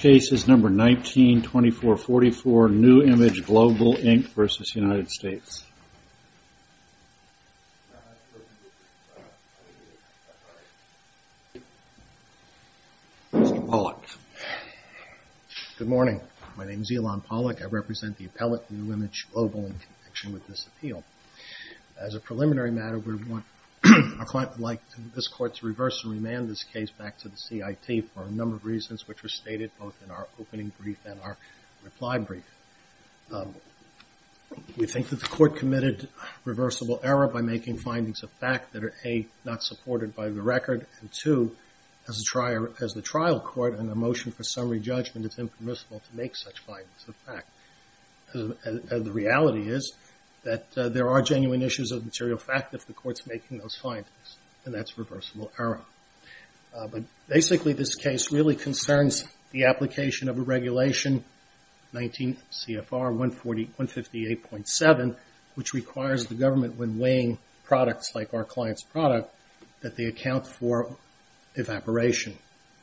Mr. Pollack. Good morning. My name is Elon Pollack. I represent the appellate New Image Global in connection with this appeal. As a preliminary matter, we would like this court to reverse and remand this case back to the CIT for a number of reasons, which were stated both in our opening brief and our reply brief. We think that the court committed reversible error by making findings of fact that are, A, not supported by the record, and, 2, as the trial court, in a motion for summary judgment, it's impermissible to make such findings of fact. The reality is that there are genuine issues of material fact if the court's making those findings, and that's reversible error. Basically, this case really concerns the application of a regulation, 19 CFR 158.7, which requires the government, when weighing products like our client's product, that they account for evaporation,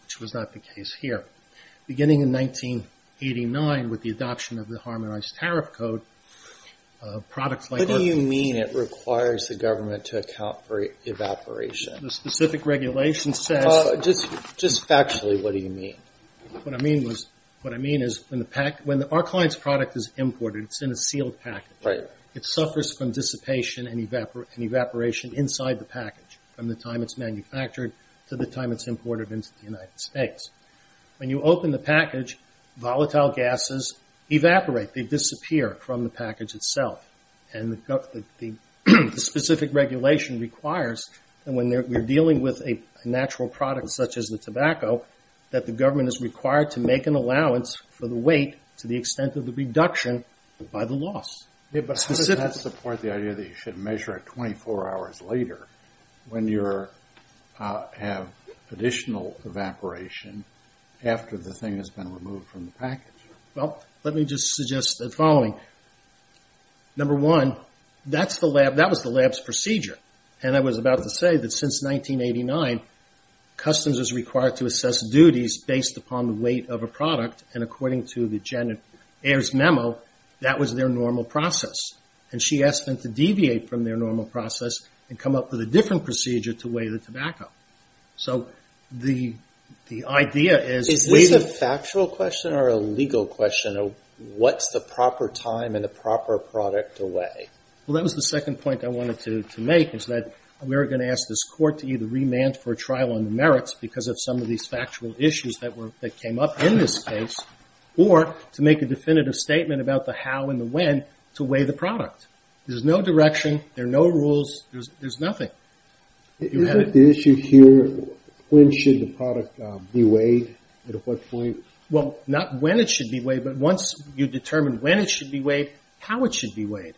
which was not the case here. Beginning in 1989, with the adoption of the Harmonized Tariff Code, products like our client's product were not allowed to be sold in the U.S. What do you mean it requires the government to account for evaporation? Just factually, what do you mean? What I mean is when our client's product is imported, it's in a sealed package. It suffers from dissipation and evaporation inside the package from the time it's manufactured to the time it's imported into the United States. When you open the package, volatile gases evaporate. They disappear from the package itself. The specific regulation requires that when we're dealing with a natural product such as the tobacco, that the government is required to make an allowance for the weight to the extent of the reduction by the loss. But how does that support the idea that you should measure it 24 hours later when you have additional evaporation after the thing has been removed from the package? Let me just suggest the following. Number one, that was the lab's procedure. I was about to say that since 1989, customs is required to assess duties based upon the weight of a product. According to Janet Ayers' memo, that was their normal process. She asked them to deviate from their normal process and come up with a different procedure to weigh the tobacco. Is this a factual question or a legal question? What's the proper time and the proper product to weigh? Well, that was the second point I wanted to make, is that we're going to ask this court to either remand for a trial on the merits because of some of these factual issues that came up in this case, or to make a definitive statement about the how and the when to weigh the product. There's no direction. There are no rules. There's nothing. Is it the issue here, when should the product be weighed? At what point? Well, not when it should be weighed, but once you determine when it should be weighed, how it should be weighed.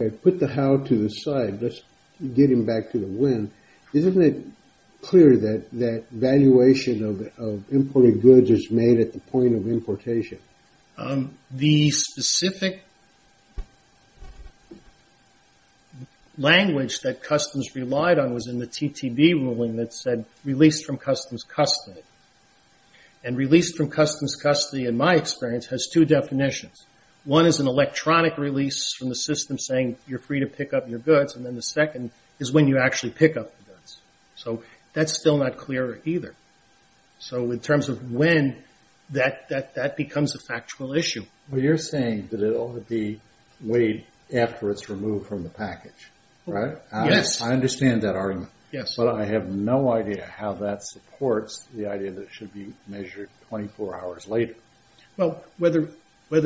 Okay, put the how to the side. Let's get him back to the when. Isn't it clear that valuation of imported goods is made at the point of importation? The specific language that Customs relied on was in the TTV ruling that said, released from Customs custody. Released from Customs custody, in my experience, has two definitions. One is an electronic release from the system saying you're free to pick up your goods, and then the second is when you actually pick up the goods. That's still not clear either. So in terms of when, that becomes a factual issue. Well, you're saying that it ought to be weighed after it's removed from the package, right? Yes. I understand that argument, but I have no idea how that supports the idea that it should be measured 24 hours later. Well, whether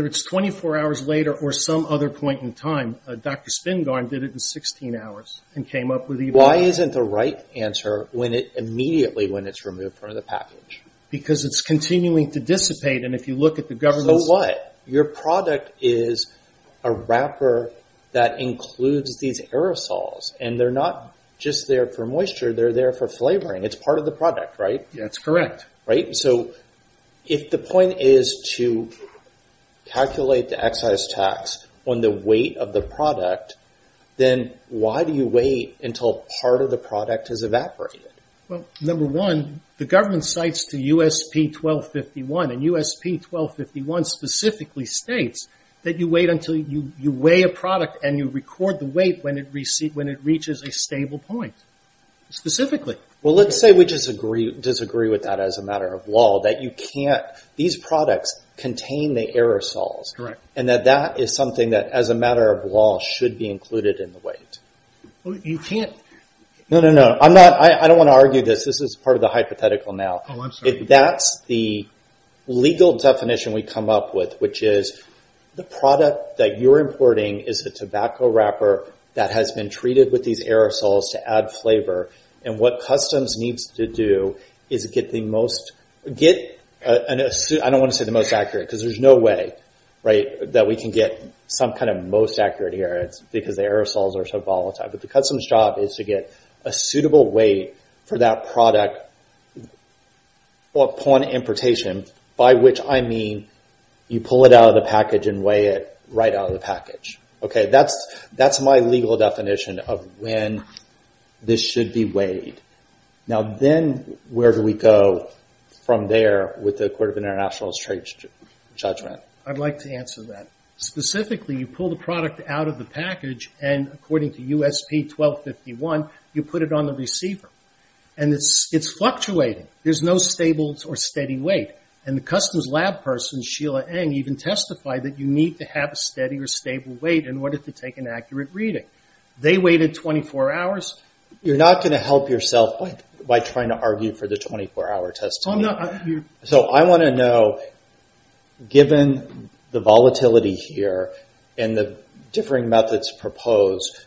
it's 24 hours later or some other point in time, Dr. Spingarn did it in 16 hours and came up with even more. Why isn't the right answer immediately when it's removed from the package? Because it's continuing to dissipate, and if you look at the government's- So what? Your product is a wrapper that includes these aerosols, and they're not just there for moisture, they're there for flavoring. It's part of the product, right? That's correct. So if the point is to calculate the excise tax on the weight of the product, then why do you wait until part of the product has evaporated? Well, number one, the government cites the USP-1251, and USP-1251 specifically states that you wait until you weigh a product and you record the weight when it reaches a stable point, specifically. Well, let's say we disagree with that as a matter of law, that you can't- these products contain the aerosols, and that that is something that, as a matter of law, should be included in the weight. Well, you can't- No, no, no. I'm not- I don't want to argue this. This is part of the hypothetical now. Oh, I'm sorry. That's the legal definition we come up with, which is the product that you're importing is a tobacco wrapper that has been treated with these aerosols to add flavor, and what customs needs to do is get the most- I don't want to say the most accurate, because there's no way that we can get some kind of most accurate here. It's because the aerosols are so volatile, but the customs job is to get a suitable weight for that product upon importation, by which I mean you pull it out of the package and weigh it right out of the package. That's my legal definition of when this should be weighed. Now then, where do we go from there with the Court of International Trade's judgment? I'd like to answer that. Specifically, you pull the product out of the package, and according to USP 1251, you put it on the receiver, and it's fluctuating. There's no stable or steady weight, and the customs lab person, Sheila Eng, even testified that you need to have a steady or stable weight in order to take an accurate reading. They weighed it 24 hours. You're not going to help yourself by trying to argue for the 24-hour testimony. I want to know, given the volatility here and the differing methods proposed,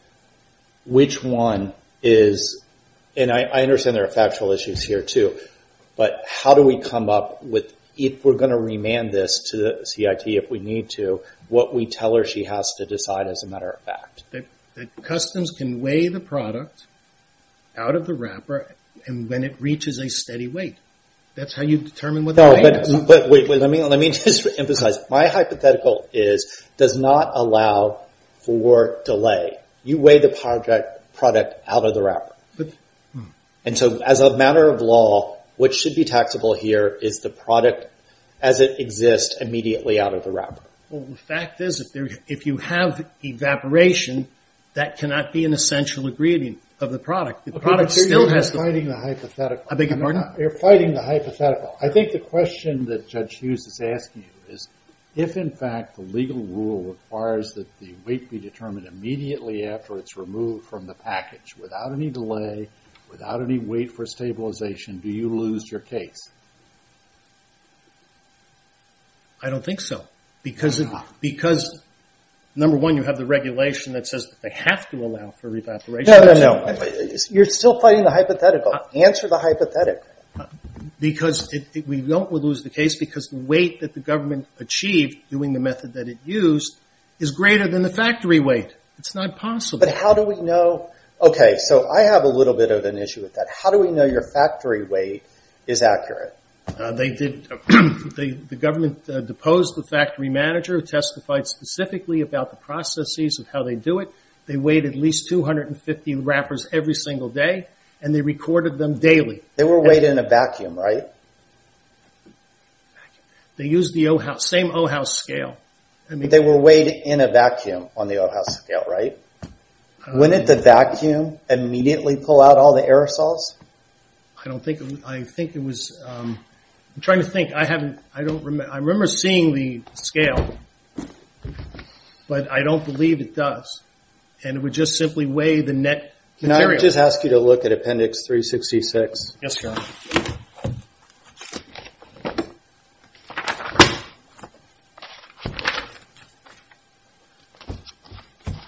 which one is... I understand there are factual issues here, too, but how do we come up with, if we're going to remand this to the CIT if we need to, what we tell her she has to decide as a matter of fact? Customs can weigh the product out of the wrapper when it reaches a steady weight. That's how you determine what the weight is. Let me just emphasize. My hypothetical is, does not allow for delay. You weigh the product out of the wrapper. As a matter of law, what should be taxable here is the product as it exists immediately out of the wrapper. The fact is, if you have evaporation, that cannot be an essential ingredient of the product. You're fighting the hypothetical. I think the question that Judge Hughes is asking is, if in fact the legal rule requires that the weight be determined immediately after it's removed from the package, without any delay, without any weight for stabilization, do you lose your case? I don't think so. Because, number one, you have the regulation that says they have to allow for evaporation. No, no, no. You're still fighting the hypothetical. Answer the hypothetical. Because we don't lose the case because the weight that the government achieved doing the method that it used is greater than the factory weight. It's not possible. But how do we know? Okay, so I have a little bit of an issue with that. How do we know your factory weight is accurate? The government deposed the factory manager who testified specifically about the processes of how they do it. They weighed at least 250 wrappers every single day, and they recorded them daily. They were weighed in a vacuum, right? They used the same O-House scale. They were weighed in a vacuum on the O-House scale, right? When did the vacuum immediately pull out all the aerosols? I'm trying to think. I remember seeing the scale, but I don't believe it does. It would just simply weigh the net material. Can I just ask you to look at Appendix 366? Yes, sir.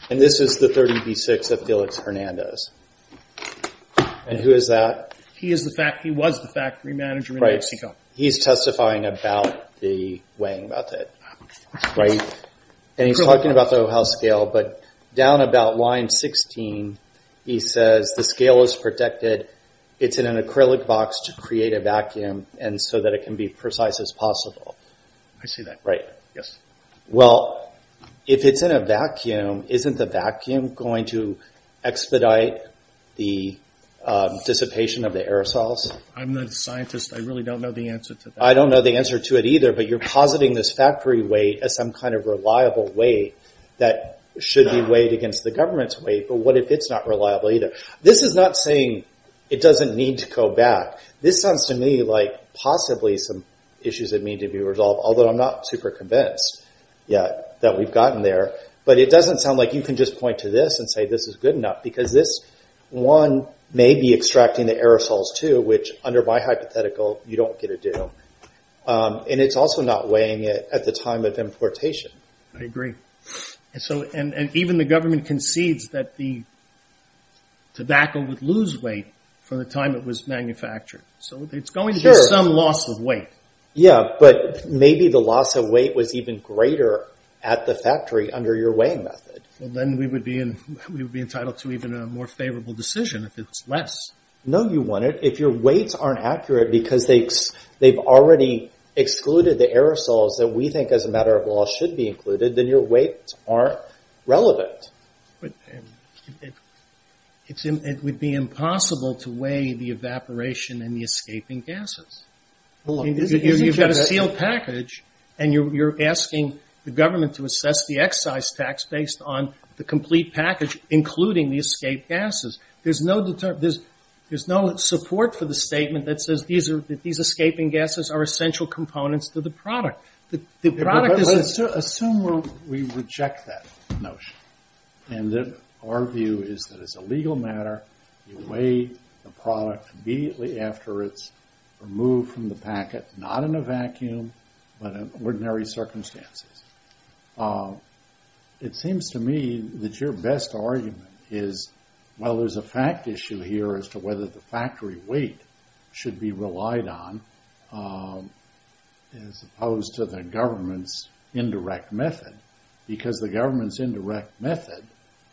This is the 30B6 of Felix Hernandez. Who is that? He was the factory manager in Mexico. He's testifying about the weighing method, right? He's talking about the O-House scale, but down about line 16, he says, the scale is protected. It's in an acrylic box to create a vacuum so that it can be precise as possible. I see that, yes. Well, if it's in a vacuum, isn't the vacuum going to expedite the dissipation of the aerosols? I'm not a scientist. I really don't know the answer to that. I don't know the answer to it either, but you're positing this factory weight as some kind of reliable weight that should be weighed against the government's weight, but what if it's not reliable either? This is not saying it doesn't need to go back. This sounds to me like possibly some issues that need to be resolved, although I'm not super convinced yet that we've gotten there. It doesn't sound like you can just point to this and say this is good enough because this one may be extracting the aerosols too, which under my hypothetical, you don't get to do. And it's also not weighing it at the time of importation. I agree. And even the government concedes that the tobacco would lose weight from the time it was manufactured. So it's going to be some loss of weight. Yeah, but maybe the loss of weight was even greater at the factory under your weighing method. Well, then we would be entitled to even a more favorable decision if it's less. No, you wouldn't. If your weights aren't accurate because they've already excluded the aerosols that we think as a matter of law should be included, then your weights aren't relevant. It would be impossible to weigh the evaporation and the escaping gases. You've got a sealed package and you're asking the government to assess the excise tax based on the complete package, including the escape gases. There's no support for the statement that says that these escaping gases are essential components to the product. Assume we reject that notion and that our view is that it's a legal matter. You weigh the product immediately after it's removed from the packet, not in a vacuum, but in ordinary circumstances. It seems to me that your best argument is, well, there's a fact issue here as to whether the factory weight should be relied on as opposed to the government's indirect method because the government's indirect method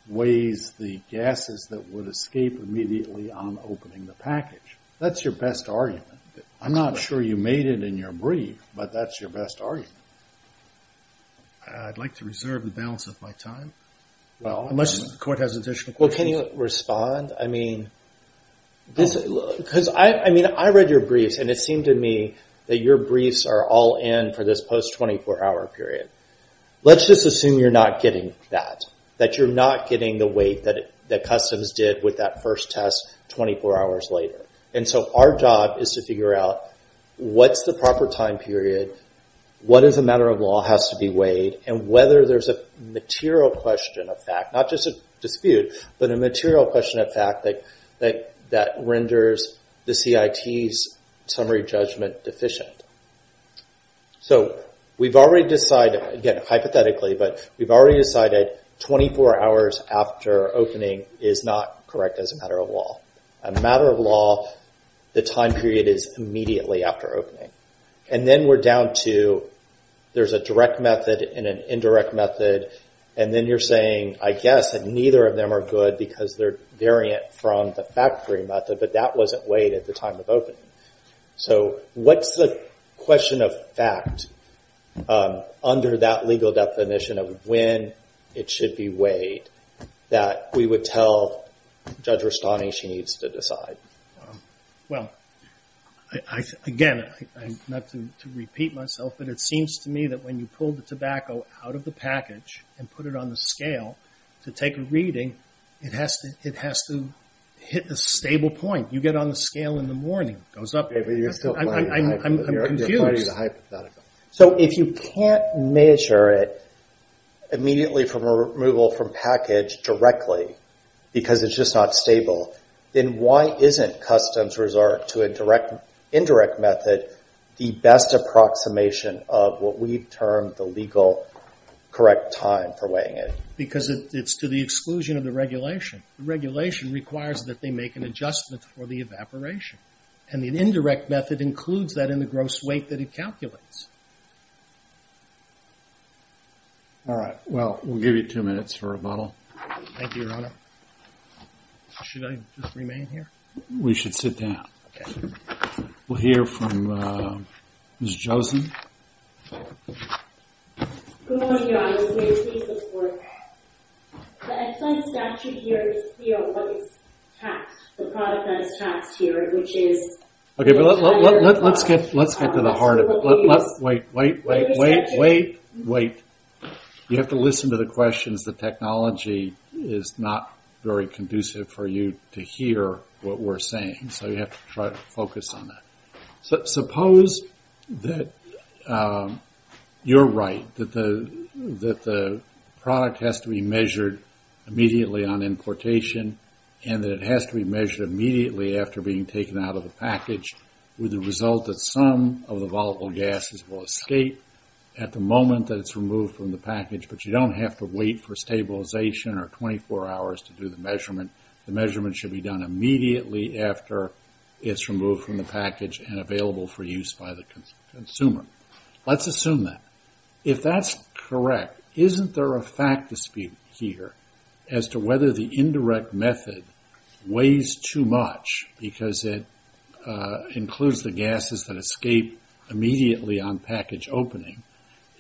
weighs the gases that would escape immediately on opening the package. That's your best argument. I'm not sure you made it in your brief, but that's your best argument. I'd like to reserve the balance of my time. Unless the court has additional questions. Well, can you respond? I mean, I read your briefs and it seemed to me that your briefs are all in for this post 24-hour period. Let's just assume you're not getting that, that you're not getting the weight that customs did with that first test 24 hours later. Our job is to figure out what's the proper time period, what as a matter of law has to be weighed, and whether there's a material question of fact, not just a dispute, but a material question of fact that renders the CIT's summary judgment deficient. We've already decided, again, hypothetically, but we've already decided 24 hours after opening is not correct as a matter of law. A matter of law, the time period is immediately after opening. Then we're down to, there's a direct method and an indirect method, and then you're saying, I guess, that neither of them are good because they're variant from the factory method, but that wasn't weighed at the time of opening. What's the question of fact under that legal definition of when it should be weighed that we would tell Judge Rastani she needs to decide? Well, again, not to repeat myself, but it seems to me that when you pull the tobacco out of the package and put it on the scale to take a reading, it has to hit a stable point. You get on the scale in the morning, it goes up. I'm confused. So if you can't measure it immediately from removal from package directly because it's just not stable, then why isn't customs resort to an indirect method the best approximation of what we've termed the legal correct time for weighing it? Because it's to the exclusion of the regulation. The regulation requires that they make an adjustment for the evaporation, and the indirect method includes that in the gross weight that it calculates. All right. Well, we'll give you two minutes for rebuttal. Thank you, Your Honor. Should I just remain here? We should sit down. We'll hear from Ms. Josen. Good morning, Your Honor. I'm here to ask for your support. The ex-sign statute here is what is taxed, the product that is taxed here, which is- Let's get to the heart of it. Wait, wait, wait, wait. You have to listen to the questions. The technology is not very conducive for you to hear what we're saying, so you have to try to focus on that. Suppose that you're right, that the product has to be measured immediately on importation and that it has to be measured immediately after being taken out of the package with the result that some of the volatile gases will escape at the moment that it's removed from the package, but you don't have to wait for stabilization or 24 hours to do the measurement. The measurement should be done immediately after it's removed from the package and available for use by the consumer. Let's assume that. If that's correct, isn't there a fact dispute here as to whether the indirect method weighs too much because it includes the gases that escape immediately on package opening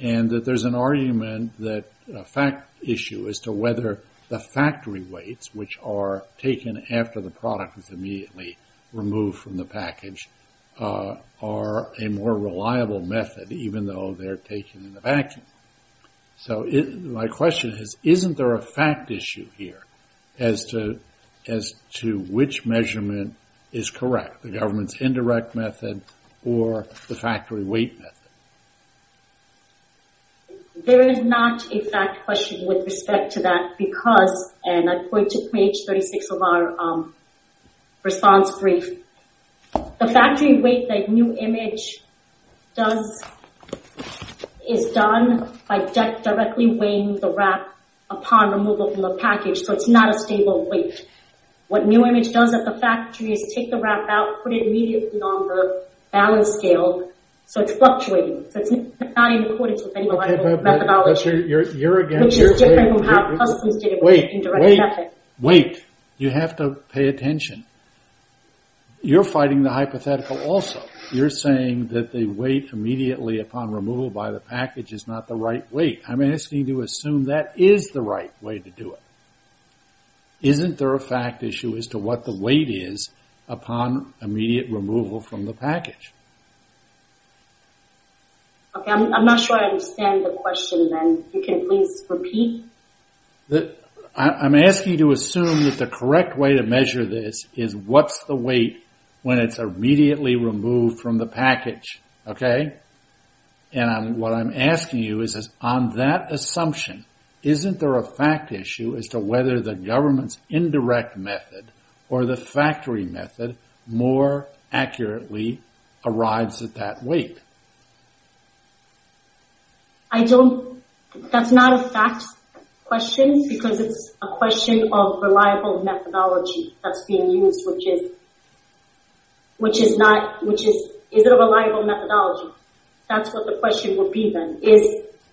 and that there's an argument that- a fact issue as to whether the factory weights, which are taken after the product is immediately removed from the package, are a more reliable method even though they're taken in the vacuum? So my question is, isn't there a fact issue here as to which measurement is correct, the government's indirect method or the factory weight method? There is not a fact question with respect to that because, and I point to page 36 of our response brief, the factory weight that new image does- is done by the manufacturer by directly weighing the wrap upon removal from the package, so it's not a stable weight. What new image does at the factory is take the wrap out, put it immediately on the balance scale, so it's fluctuating. So it's not in accordance with any reliable methodology, which is different from how customs did it with the indirect method. Wait. You have to pay attention. You're fighting the hypothetical also. You're saying that the weight immediately upon removal by the package is not the right weight. I'm asking you to assume that is the right way to do it. Isn't there a fact issue as to what the weight is upon immediate removal from the package? Okay. I'm not sure I understand the question then. You can please repeat. I'm asking you to assume that the correct way to measure this is what's the weight when it's immediately removed from the package. Okay? And what I'm asking you is on that assumption, isn't there a fact issue as to whether the government's indirect method or the factory method more accurately arrives at that weight? I don't- that's not a fact question because it's a question of reliable methodology that's being used, which is- which is not- which is- is it a reliable methodology? That's what the question would be then. Is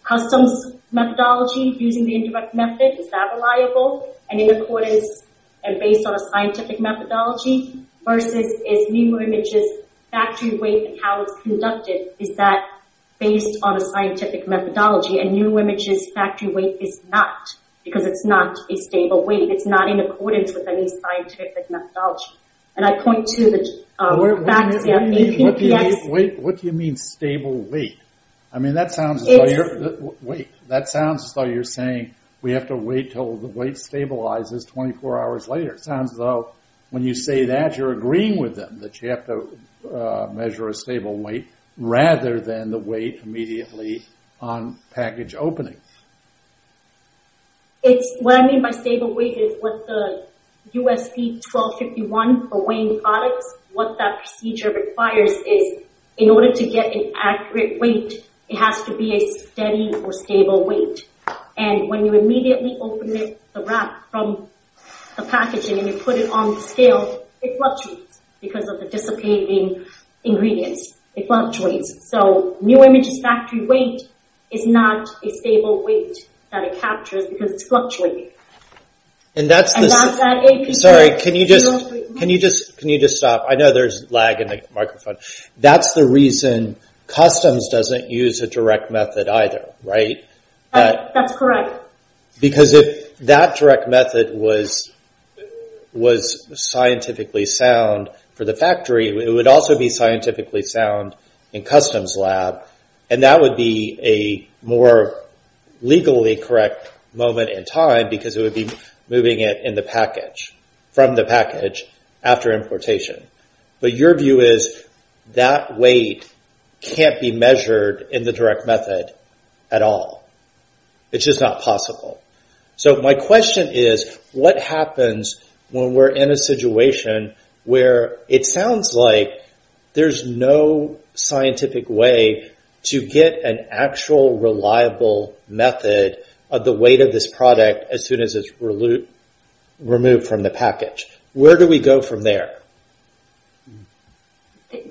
customs methodology using the indirect method, is that reliable and in accordance and based on a scientific methodology? Versus is new images factory weight and how it's conducted, is that based on a scientific methodology and new images factory weight is not, because it's not a stable weight. It's not in accordance with any scientific methodology. And I point to the- What do you mean- what do you mean stable weight? I mean that sounds- It's- Wait. That sounds as though you're saying we have to wait till the weight stabilizes 24 hours later. It sounds as though when you say that you're agreeing with them that you have to measure a stable weight rather than the weight immediately on package opening. It's- what I mean by stable weight is what the USP 1251 for weighing products, what that procedure requires is in order to get an accurate weight, it has to be a steady or stable weight. And when you immediately open the wrap from the packaging and you put it on the scale, it fluctuates because of the dissipating ingredients. It fluctuates. So new images factory weight is not a stable weight that it captures because it's fluctuating. And that's the- And that's- Sorry, can you just stop? I know there's lag in the microphone. That's the reason customs doesn't use a direct method either, right? That's correct. Because if that direct method was scientifically sound for the factory, it would also be scientifically sound in customs lab, and that would be a more legally correct moment in time because it would be moving it in the package, from the package after importation. But your view is that weight can't be measured in the direct method at all. It's just not possible. So my question is, what happens when we're in a situation where it sounds like there's no scientific way to get an actual reliable method of the weight of this product as soon as it's removed from the package? Where do we go from there?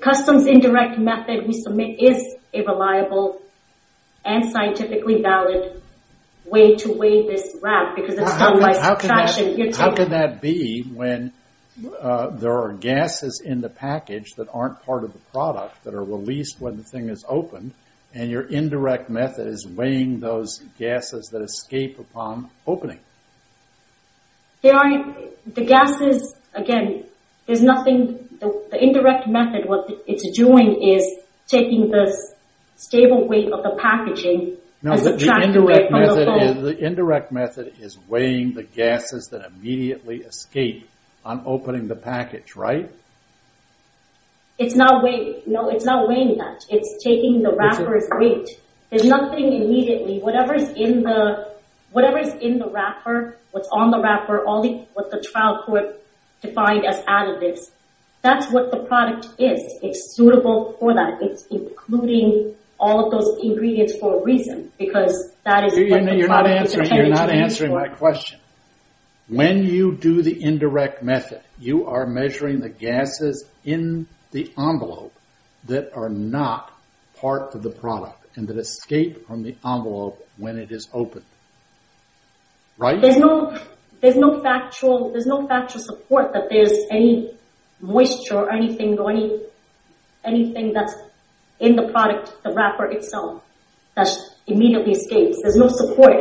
Customs indirect method we submit is a reliable and scientifically valid way to weigh this wrap because it's done by- How can that be when there are gases in the package that aren't part of the product that are released when the thing is opened, and your indirect method is weighing those gases that escape upon opening? The gases, again, the indirect method, what it's doing is taking the stable weight of the packaging and subtracting it from the foam. No, the indirect method is weighing the gases that immediately escape upon opening the package, right? It's not weighing that. It's taking the wrapper's weight. There's nothing immediately. Whatever is in the wrapper, what's on the wrapper, what the trial court defined as added this, that's what the product is. It's suitable for that. It's including all of those ingredients for a reason because that is what the product is- You're not answering my question. When you do the indirect method, you are measuring the gases in the envelope that are not part of the product and that escape from the envelope when it is opened, right? There's no factual support that there's any moisture or anything that's in the product, the wrapper itself, that immediately escapes. There's no support.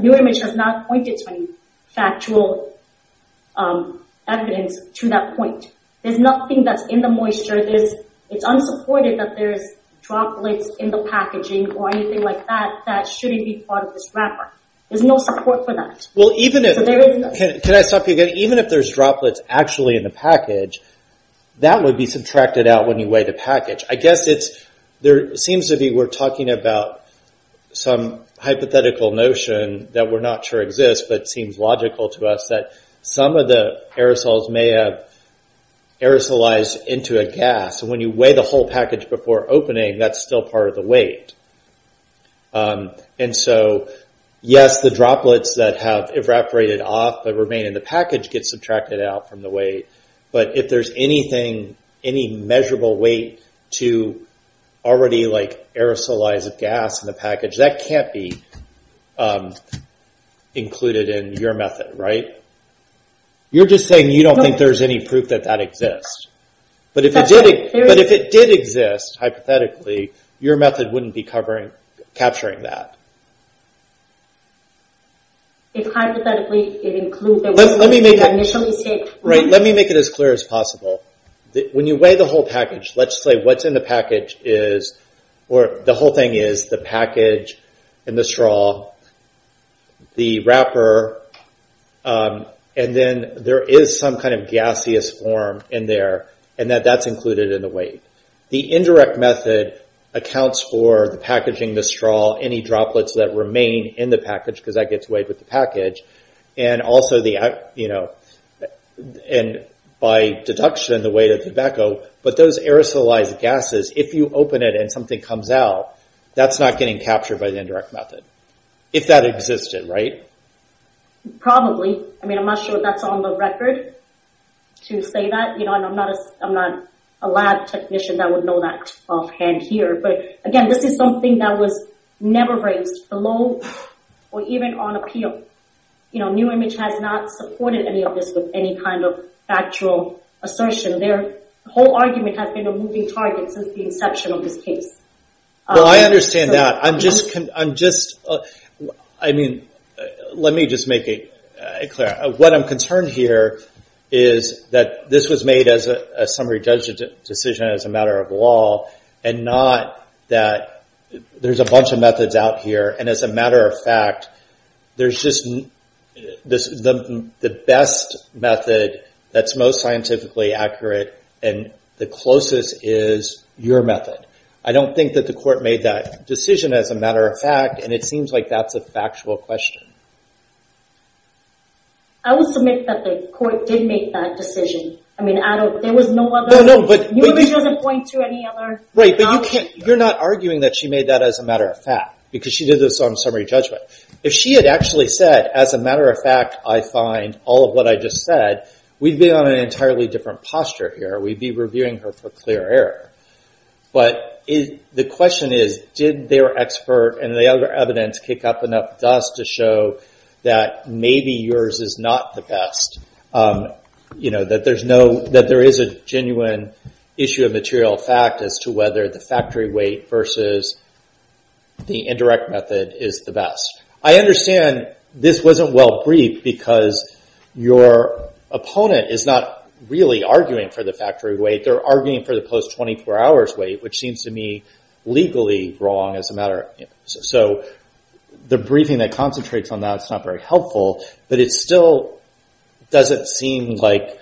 New Image has not pointed to any factual evidence to that point. There's nothing that's in the moisture. It's unsupported that there's droplets in the packaging or anything like that that shouldn't be part of this wrapper. There's no support for that. Can I stop you again? Even if there's droplets actually in the package, that would be subtracted out when you weigh the package. I guess there seems to be, we're talking about some hypothetical notion that we're not sure exists, but it seems logical to us that some of the aerosols may have aerosolized into a gas. When you weigh the whole package before opening, that's still part of the weight. Yes, the droplets that have evaporated off but remain in the package get subtracted out from the weight, but if there's anything, any measurable weight to already aerosolize a gas in the package, that can't be included in your method, right? You're just saying you don't think there's any proof that that exists. If it did exist, hypothetically, your method wouldn't be capturing that. Let me make it as clear as possible. When you weigh the whole package, let's say what's in the package is, or the whole thing is the package and the straw, the wrapper, and then there is some kind of gaseous form in there, and that's included in the weight. The indirect method accounts for the packaging, the straw, any droplets that remain in the package, because that gets weighed with the package, and also by deduction, the weight of tobacco, but those aerosolized gases, if you open it and something comes out, that's not getting captured by the indirect method, if that existed, right? Probably. I'm not sure that's on the record to say that. I'm not a lab technician that would know that offhand here, but again, this is something that was never raised below or even on appeal. New Image has not supported any of this with any kind of factual assertion. Their whole argument has been a moving target since the inception of this case. Well, I understand that. Let me just make it clear. What I'm concerned here is that this was made as a summary judgment decision as a matter of law, and not that there's a bunch of methods out here, and as a matter of fact, there's just the best method that's most scientifically accurate, and the closest is your method. I don't think that the court made that decision as a matter of fact, and it seems like that's a factual question. I will submit that the court did make that decision. I mean, there was no other... No, no, but... New Image doesn't point to any other... Right, but you're not arguing that she made that as a matter of fact, because she did this on summary judgment. If she had actually said, as a matter of fact, I find all of what I just said, we'd be on an entirely different posture here. We'd be reviewing her for clear error. But the question is, did their expert and the other evidence kick up enough dust to show that maybe yours is not the best? That there is a genuine issue of material fact as to whether the factory weight versus the indirect method is the best. I understand this wasn't well-briefed, because your opponent is not really arguing for the factory weight. They're arguing for the post-24 hours weight, which seems to me legally wrong as a matter... So the briefing that concentrates on that is not very helpful, but it still doesn't seem like,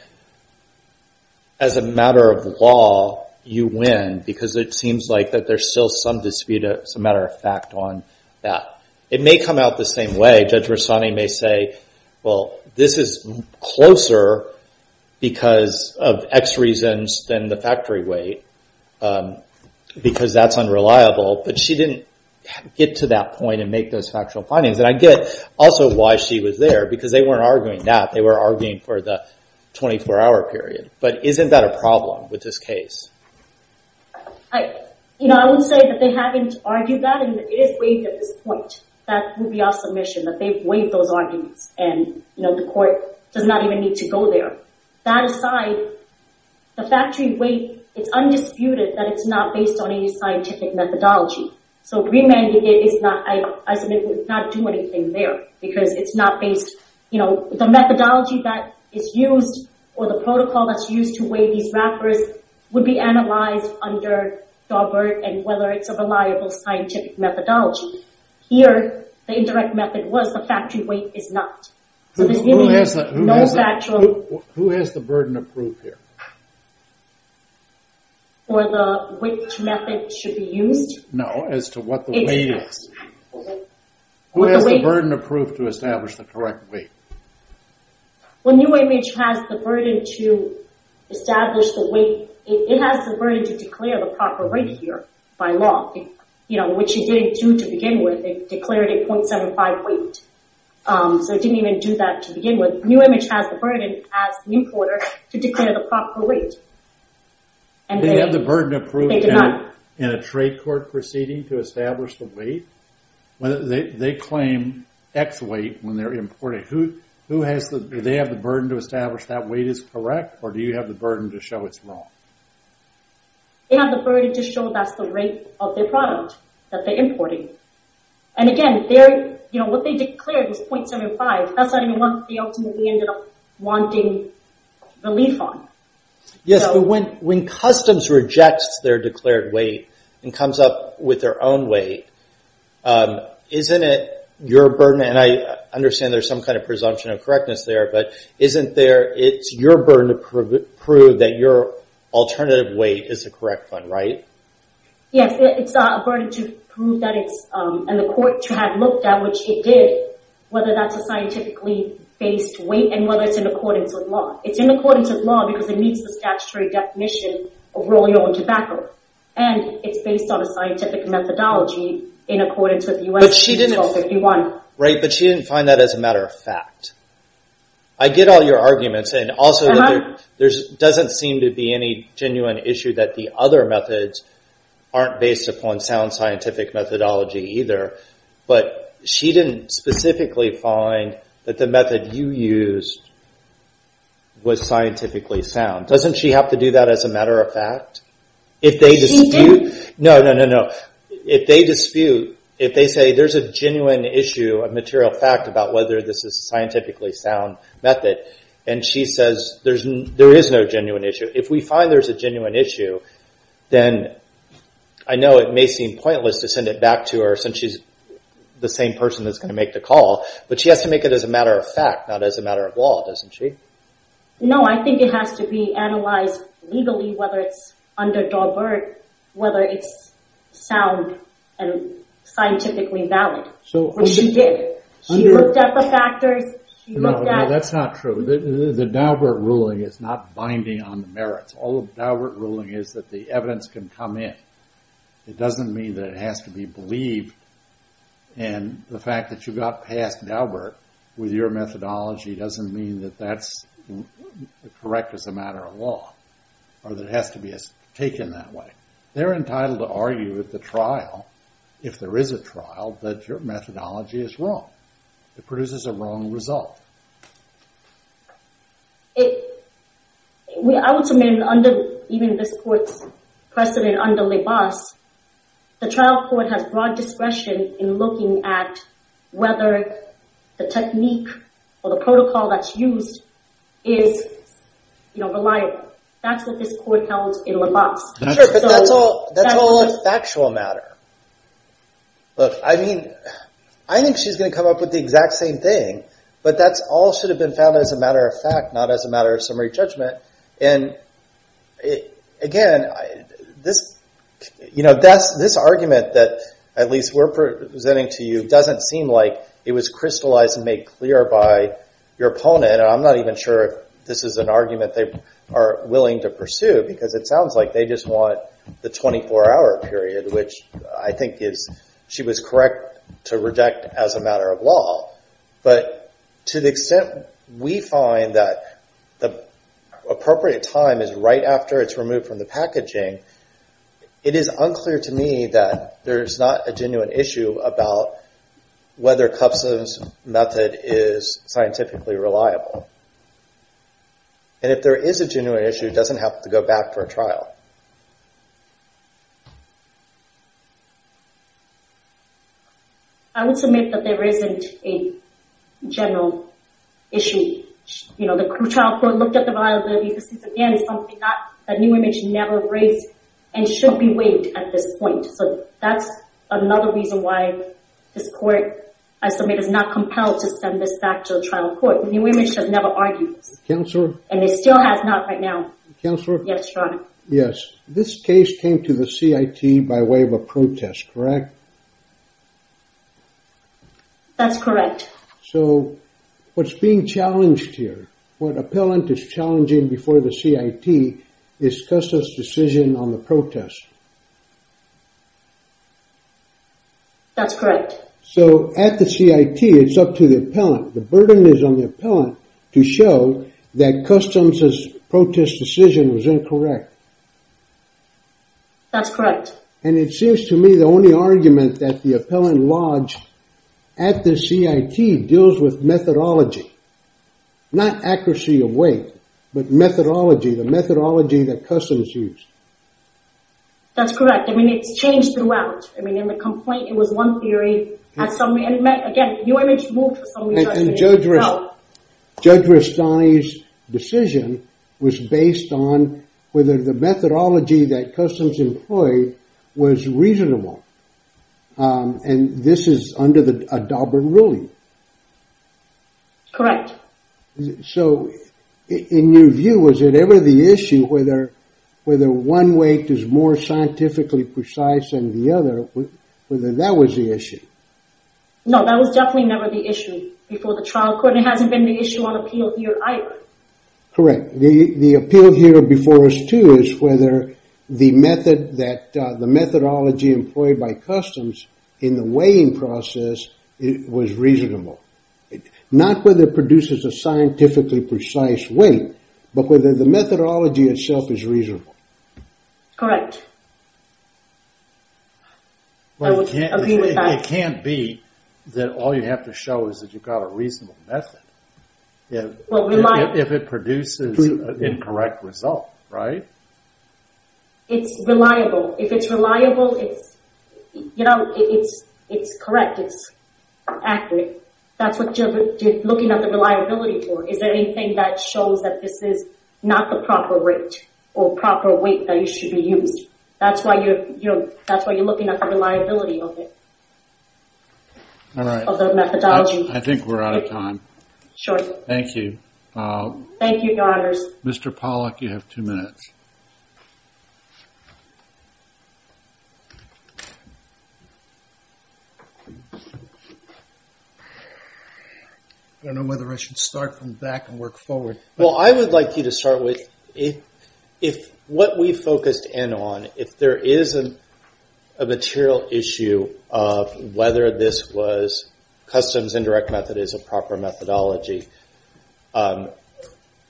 as a matter of law, you win, because it seems like that there's still some dispute, as a matter of fact, on that. It may come out the same way. Judge Rossani may say, well, this is closer because of X reasons than the factory weight, because that's unreliable. But she didn't get to that point and make those factual findings. And I get also why she was there, because they weren't arguing that. They were arguing for the 24-hour period. But isn't that a problem with this case? I would say that they haven't argued that, and it is waived at this point. That would be our submission, that they've waived those arguments, and the court does not even need to go there. That aside, the factory weight, it's undisputed that it's not based on any scientific methodology. So Greenman, I submit, would not do anything there, because it's not based... The methodology that is used or the protocol that's used to weigh these wrappers would be analyzed under Daubert and whether it's a reliable scientific methodology. Here, the indirect method was the factory weight is not. So there's really no factual... Who has the burden of proof here? For which method should be used? No, as to what the weight is. Who has the burden of proof to establish the correct weight? Well, New Image has the burden to establish the weight. It has the burden to declare the proper weight here by law, which it didn't do to begin with. It declared it 0.75 weight. So it didn't even do that to begin with. New Image has the burden, as New Quarter, to declare the proper weight. They have the burden of proof in a trade court proceeding to establish the weight? They claim X weight when they're importing. Do they have the burden to establish that weight is correct, or do you have the burden to show it's wrong? They have the burden to show that's the rate of their product that they're importing. And again, what they declared was 0.75. That's not even what they ultimately ended up wanting relief on. Yes, but when customs rejects their declared weight and comes up with their own weight, isn't it your burden, and I understand there's some kind of presumption of correctness there, but isn't it your burden to prove that your alternative weight is the correct one, right? Yes, it's a burden to prove that it's, and the court to have looked at which it did, whether that's a scientifically based weight and whether it's in accordance with law. It's in accordance with law because it meets the statutory definition of rolling oil and tobacco, and it's based on a scientific methodology in accordance with U.S. Article 51. Right, but she didn't find that as a matter of fact. I get all your arguments, and also there doesn't seem to be any genuine issue that the other methods aren't based upon sound She didn't specifically find that the method you used was scientifically sound. Doesn't she have to do that as a matter of fact? She didn't. No, no, no, no. If they dispute, if they say there's a genuine issue of material fact about whether this is scientifically sound method, and she says there is no genuine issue. If we find there's a genuine issue, then I know it may seem pointless to send it back to her since she's the same person that's going to make the call, but she has to make it as a matter of fact, not as a matter of law, doesn't she? No, I think it has to be analyzed legally, whether it's under Daubert, whether it's sound and scientifically valid, which she did. She looked at the factors. No, that's not true. The Daubert ruling is not binding on the merits. All of Daubert ruling is that the evidence can come in. It doesn't mean that it has to be believed, and the fact that you got past Daubert with your methodology doesn't mean that that's correct as a matter of law, or that it has to be taken that way. They're entitled to argue at the trial, if there is a trial, that your methodology is wrong. It produces a wrong result. I would submit, even under this court's precedent under Libas, the trial court has broad discretion in looking at whether the technique or the protocol that's used is reliable. That's what this court held in Libas. Sure, but that's all a factual matter. I think she's going to come up with the exact same thing, but that all should have been found as a matter of fact, not as a matter of summary judgment. Again, this argument that at least we're presenting to you doesn't seem like it was crystallized and made clear by your opponent. I'm not even sure if this is an argument they are willing to pursue, because it sounds like they just want the 24-hour period, which I think she was correct to reject as a matter of law. But to the extent we find that the appropriate time is right after it's removed from the packaging, it is unclear to me that there is not a genuine issue about whether Cubson's method is scientifically reliable. And if there is a genuine issue, it doesn't have to go back for a trial. I would submit that there isn't a general issue. The trial court looked at the viability. This is, again, something that New Image never raised and should be weighed at this point. So that's another reason why this court, I submit, is not compelled to send this back to the trial court. New Image has never argued this. Counselor? And it still has not right now. Counselor? Yes, John. Yes. This case came to the CIT by way of a protest, correct? That's correct. So what's being challenged here, what appellant is challenging before the CIT, is Custa's decision on the protest. That's correct. So at the CIT, it's up to the appellant. The burden is on the appellant to show that Customs' protest decision was incorrect. That's correct. And it seems to me the only argument that the appellant lodged at the CIT deals with methodology, not accuracy of weight, but methodology, the methodology that Customs used. That's correct. I mean, it's changed throughout. I mean, in the complaint, it was one theory. Again, New Image moved for some reason. And Judge Rastani's decision was based on whether the methodology that Customs employed was reasonable. And this is under a Daubert ruling. Correct. So in your view, was it ever the issue whether one weight is more scientifically precise than the other, whether that was the issue? No, that was definitely never the issue before the trial court, and it hasn't been the issue on appeal here either. Correct. The appeal here before us too is whether the methodology employed by Customs in the weighing process was reasonable. Not whether it produces a scientifically precise weight, but whether the methodology itself is reasonable. Correct. I would agree with that. It can't be that all you have to show is that you've got a reasonable method. If it produces an incorrect result, right? It's reliable. If it's reliable, it's correct, it's accurate. That's what you're looking at the reliability for. Is there anything that shows that this is not the proper weight that should be used? That's why you're looking at the reliability of the methodology. I think we're out of time. Thank you. Thank you, Your Honors. Mr. Pollack, you have two minutes. I don't know whether I should start from the back and work forward. Well, I would like you to start with, if what we focused in on, if there is a material issue of whether this was Customs indirect method is a proper methodology, and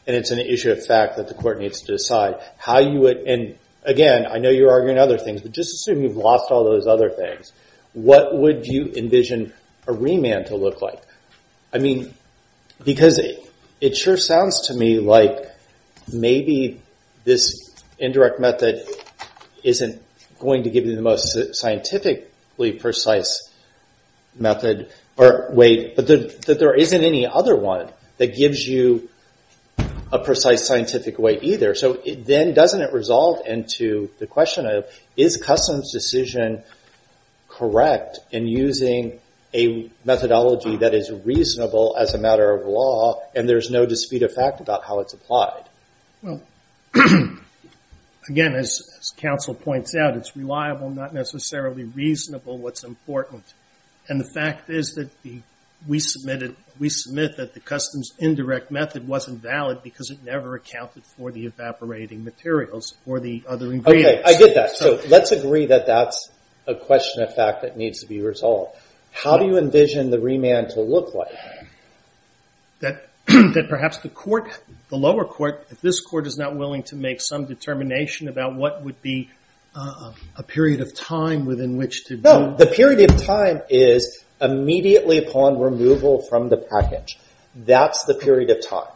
it's an issue of fact that the court needs to decide, how you would, and again, I know you're arguing other things, but just assume you've lost all those other things. What would you envision a remand to look like? I mean, because it sure sounds to me like maybe this indirect method isn't going to give you the most accurate weight, but that there isn't any other one that gives you a precise scientific weight either. Then doesn't it resolve into the question of, is Customs' decision correct in using a methodology that is reasonable as a matter of law, and there's no dispute of fact about how it's applied? Well, again, as counsel points out, it's reliable, not necessarily reasonable, what's important. And the fact is that we submit that the Customs indirect method wasn't valid because it never accounted for the evaporating materials or the other ingredients. Okay, I get that. So let's agree that that's a question of fact that needs to be resolved. How do you envision the remand to look like? That perhaps the lower court, if this court is not willing to make some determination about what would be a period of time within which to do. The period of time is immediately upon removal from the package. That's the period of time.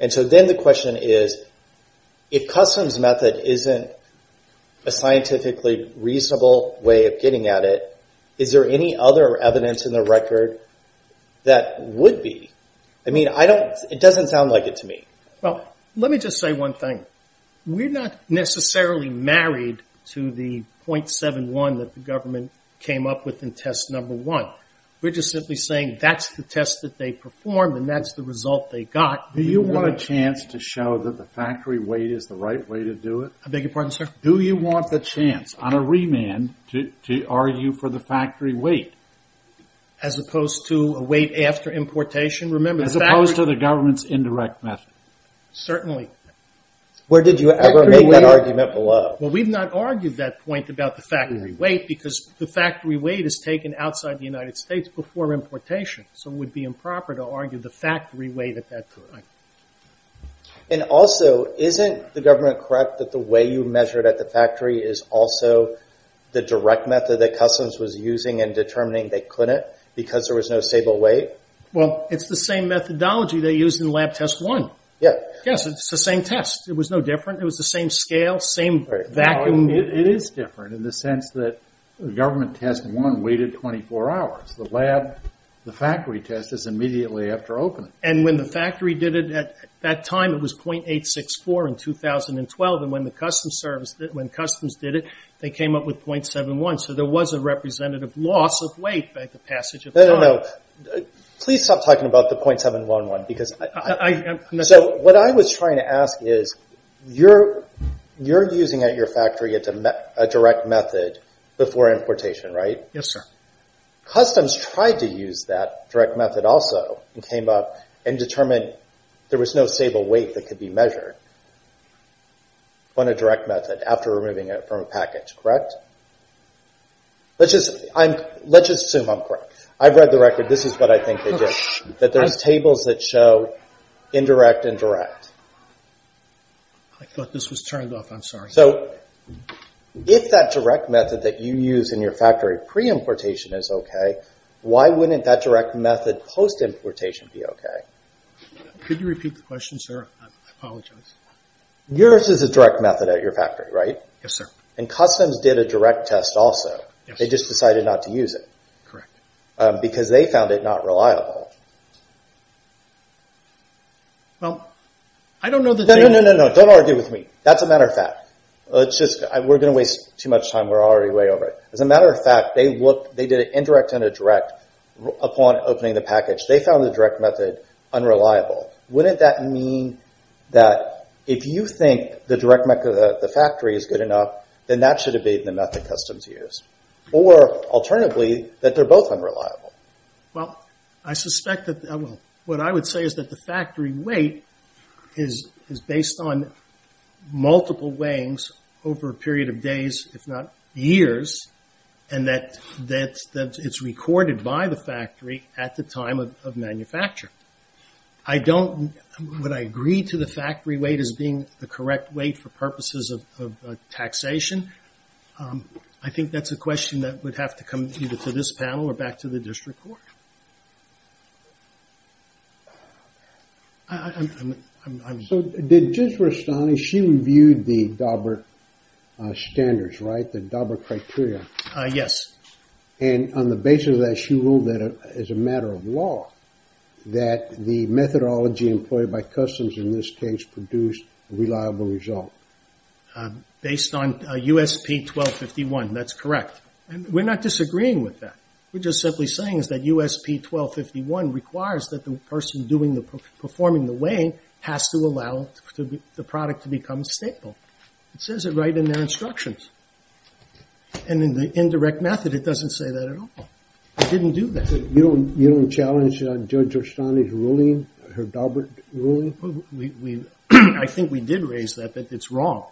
And so then the question is, if Customs' method isn't a scientifically reasonable way of getting at it, is there any other evidence in the record that would be? I mean, it doesn't sound like it to me. Well, let me just say one thing. We're not necessarily married to the .71 that the government came up with in test number one. We're just simply saying that's the test that they performed and that's the result they got. Do you want a chance to show that the factory weight is the right way to do it? I beg your pardon, sir? Do you want the chance on a remand to argue for the factory weight? As opposed to a weight after importation? As opposed to the government's indirect method. Certainly. Where did you ever make that argument below? Well, we've not argued that point about the factory weight because the factory weight is taken outside the United States before importation. So it would be improper to argue the factory weight at that point. And also, isn't the government correct that the way you measured at the factory is also the direct method that Customs was using in determining they couldn't because there was no stable weight? Well, it's the same methodology they used in lab test one. Yes, it's the same test. It was no different. It was the same scale, same vacuum. It is different in the sense that government test one waited 24 hours. The factory test is immediately after opening. And when the factory did it at that time, it was .864 in 2012. And when Customs did it, they came up with .71. So there was a representative loss of weight by the passage of time. Please stop talking about the .711. So what I was trying to ask is you're using at your factory a direct method before importation, right? Yes, sir. Customs tried to use that direct method also and came up and determined there was no stable weight that could be measured on a direct method after removing it from a package, correct? Let's just assume I'm correct. I've read the record. This is what I think they did, that there's tables that show indirect and direct. I thought this was turned off. I'm sorry. So if that direct method that you use in your factory pre-importation is okay, why wouldn't that direct method post-importation be okay? Could you repeat the question, sir? I apologize. Yours is a direct method at your factory, right? Yes, sir. And Customs did a direct test also. Yes. They just decided not to use it. Correct. Because they found it not reliable. Well, I don't know that they... No, no, no. Don't argue with me. That's a matter of fact. We're going to waste too much time. We're already way over it. As a matter of fact, they did an indirect and a direct upon opening the package. They found the direct method unreliable. Wouldn't that mean that if you think the direct method at the factory is good enough, then that should have been the method Customs used? Or, alternatively, that they're both unreliable? Well, I suspect that... Well, what I would say is that the factory weight is based on multiple weighings over a period of days, if not years, and that it's recorded by the factory at the time of manufacture. I don't... I don't see to the factory weight as being the correct weight for purposes of taxation. I think that's a question that would have to come either to this panel or back to the district court. I'm... So, did Judge Rastani, she reviewed the Daubert standards, right? The Daubert criteria? Yes. And on the basis of that, she ruled that as a matter of law, that the methodology employed by Customs, in this case, produced a reliable result. Based on USP 1251, that's correct. We're not disagreeing with that. We're just simply saying that USP 1251 requires that the person performing the weighing has to allow the product to become a staple. It says it right in their instructions. And in the indirect method, it doesn't say that at all. It didn't do that. You don't challenge Judge Rastani's ruling, her Daubert ruling? We... I think we did raise that, that it's wrong.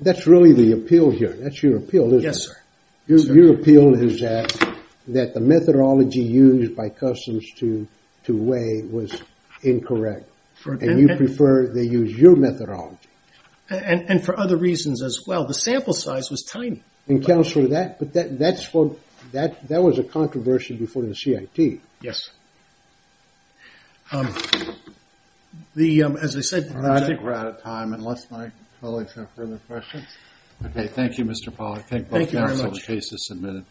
That's really the appeal here. That's your appeal, isn't it? Yes, sir. Your appeal is that the methodology used by Customs to weigh was incorrect. And you prefer they use your methodology. And for other reasons as well. The sample size was tiny. And counsel, that was a controversy before the CIT. Yes. As I said... I think we're out of time, unless my colleagues have further questions. Okay. Thank you, Mr. Pollack. Thank you very much. Case is submitted.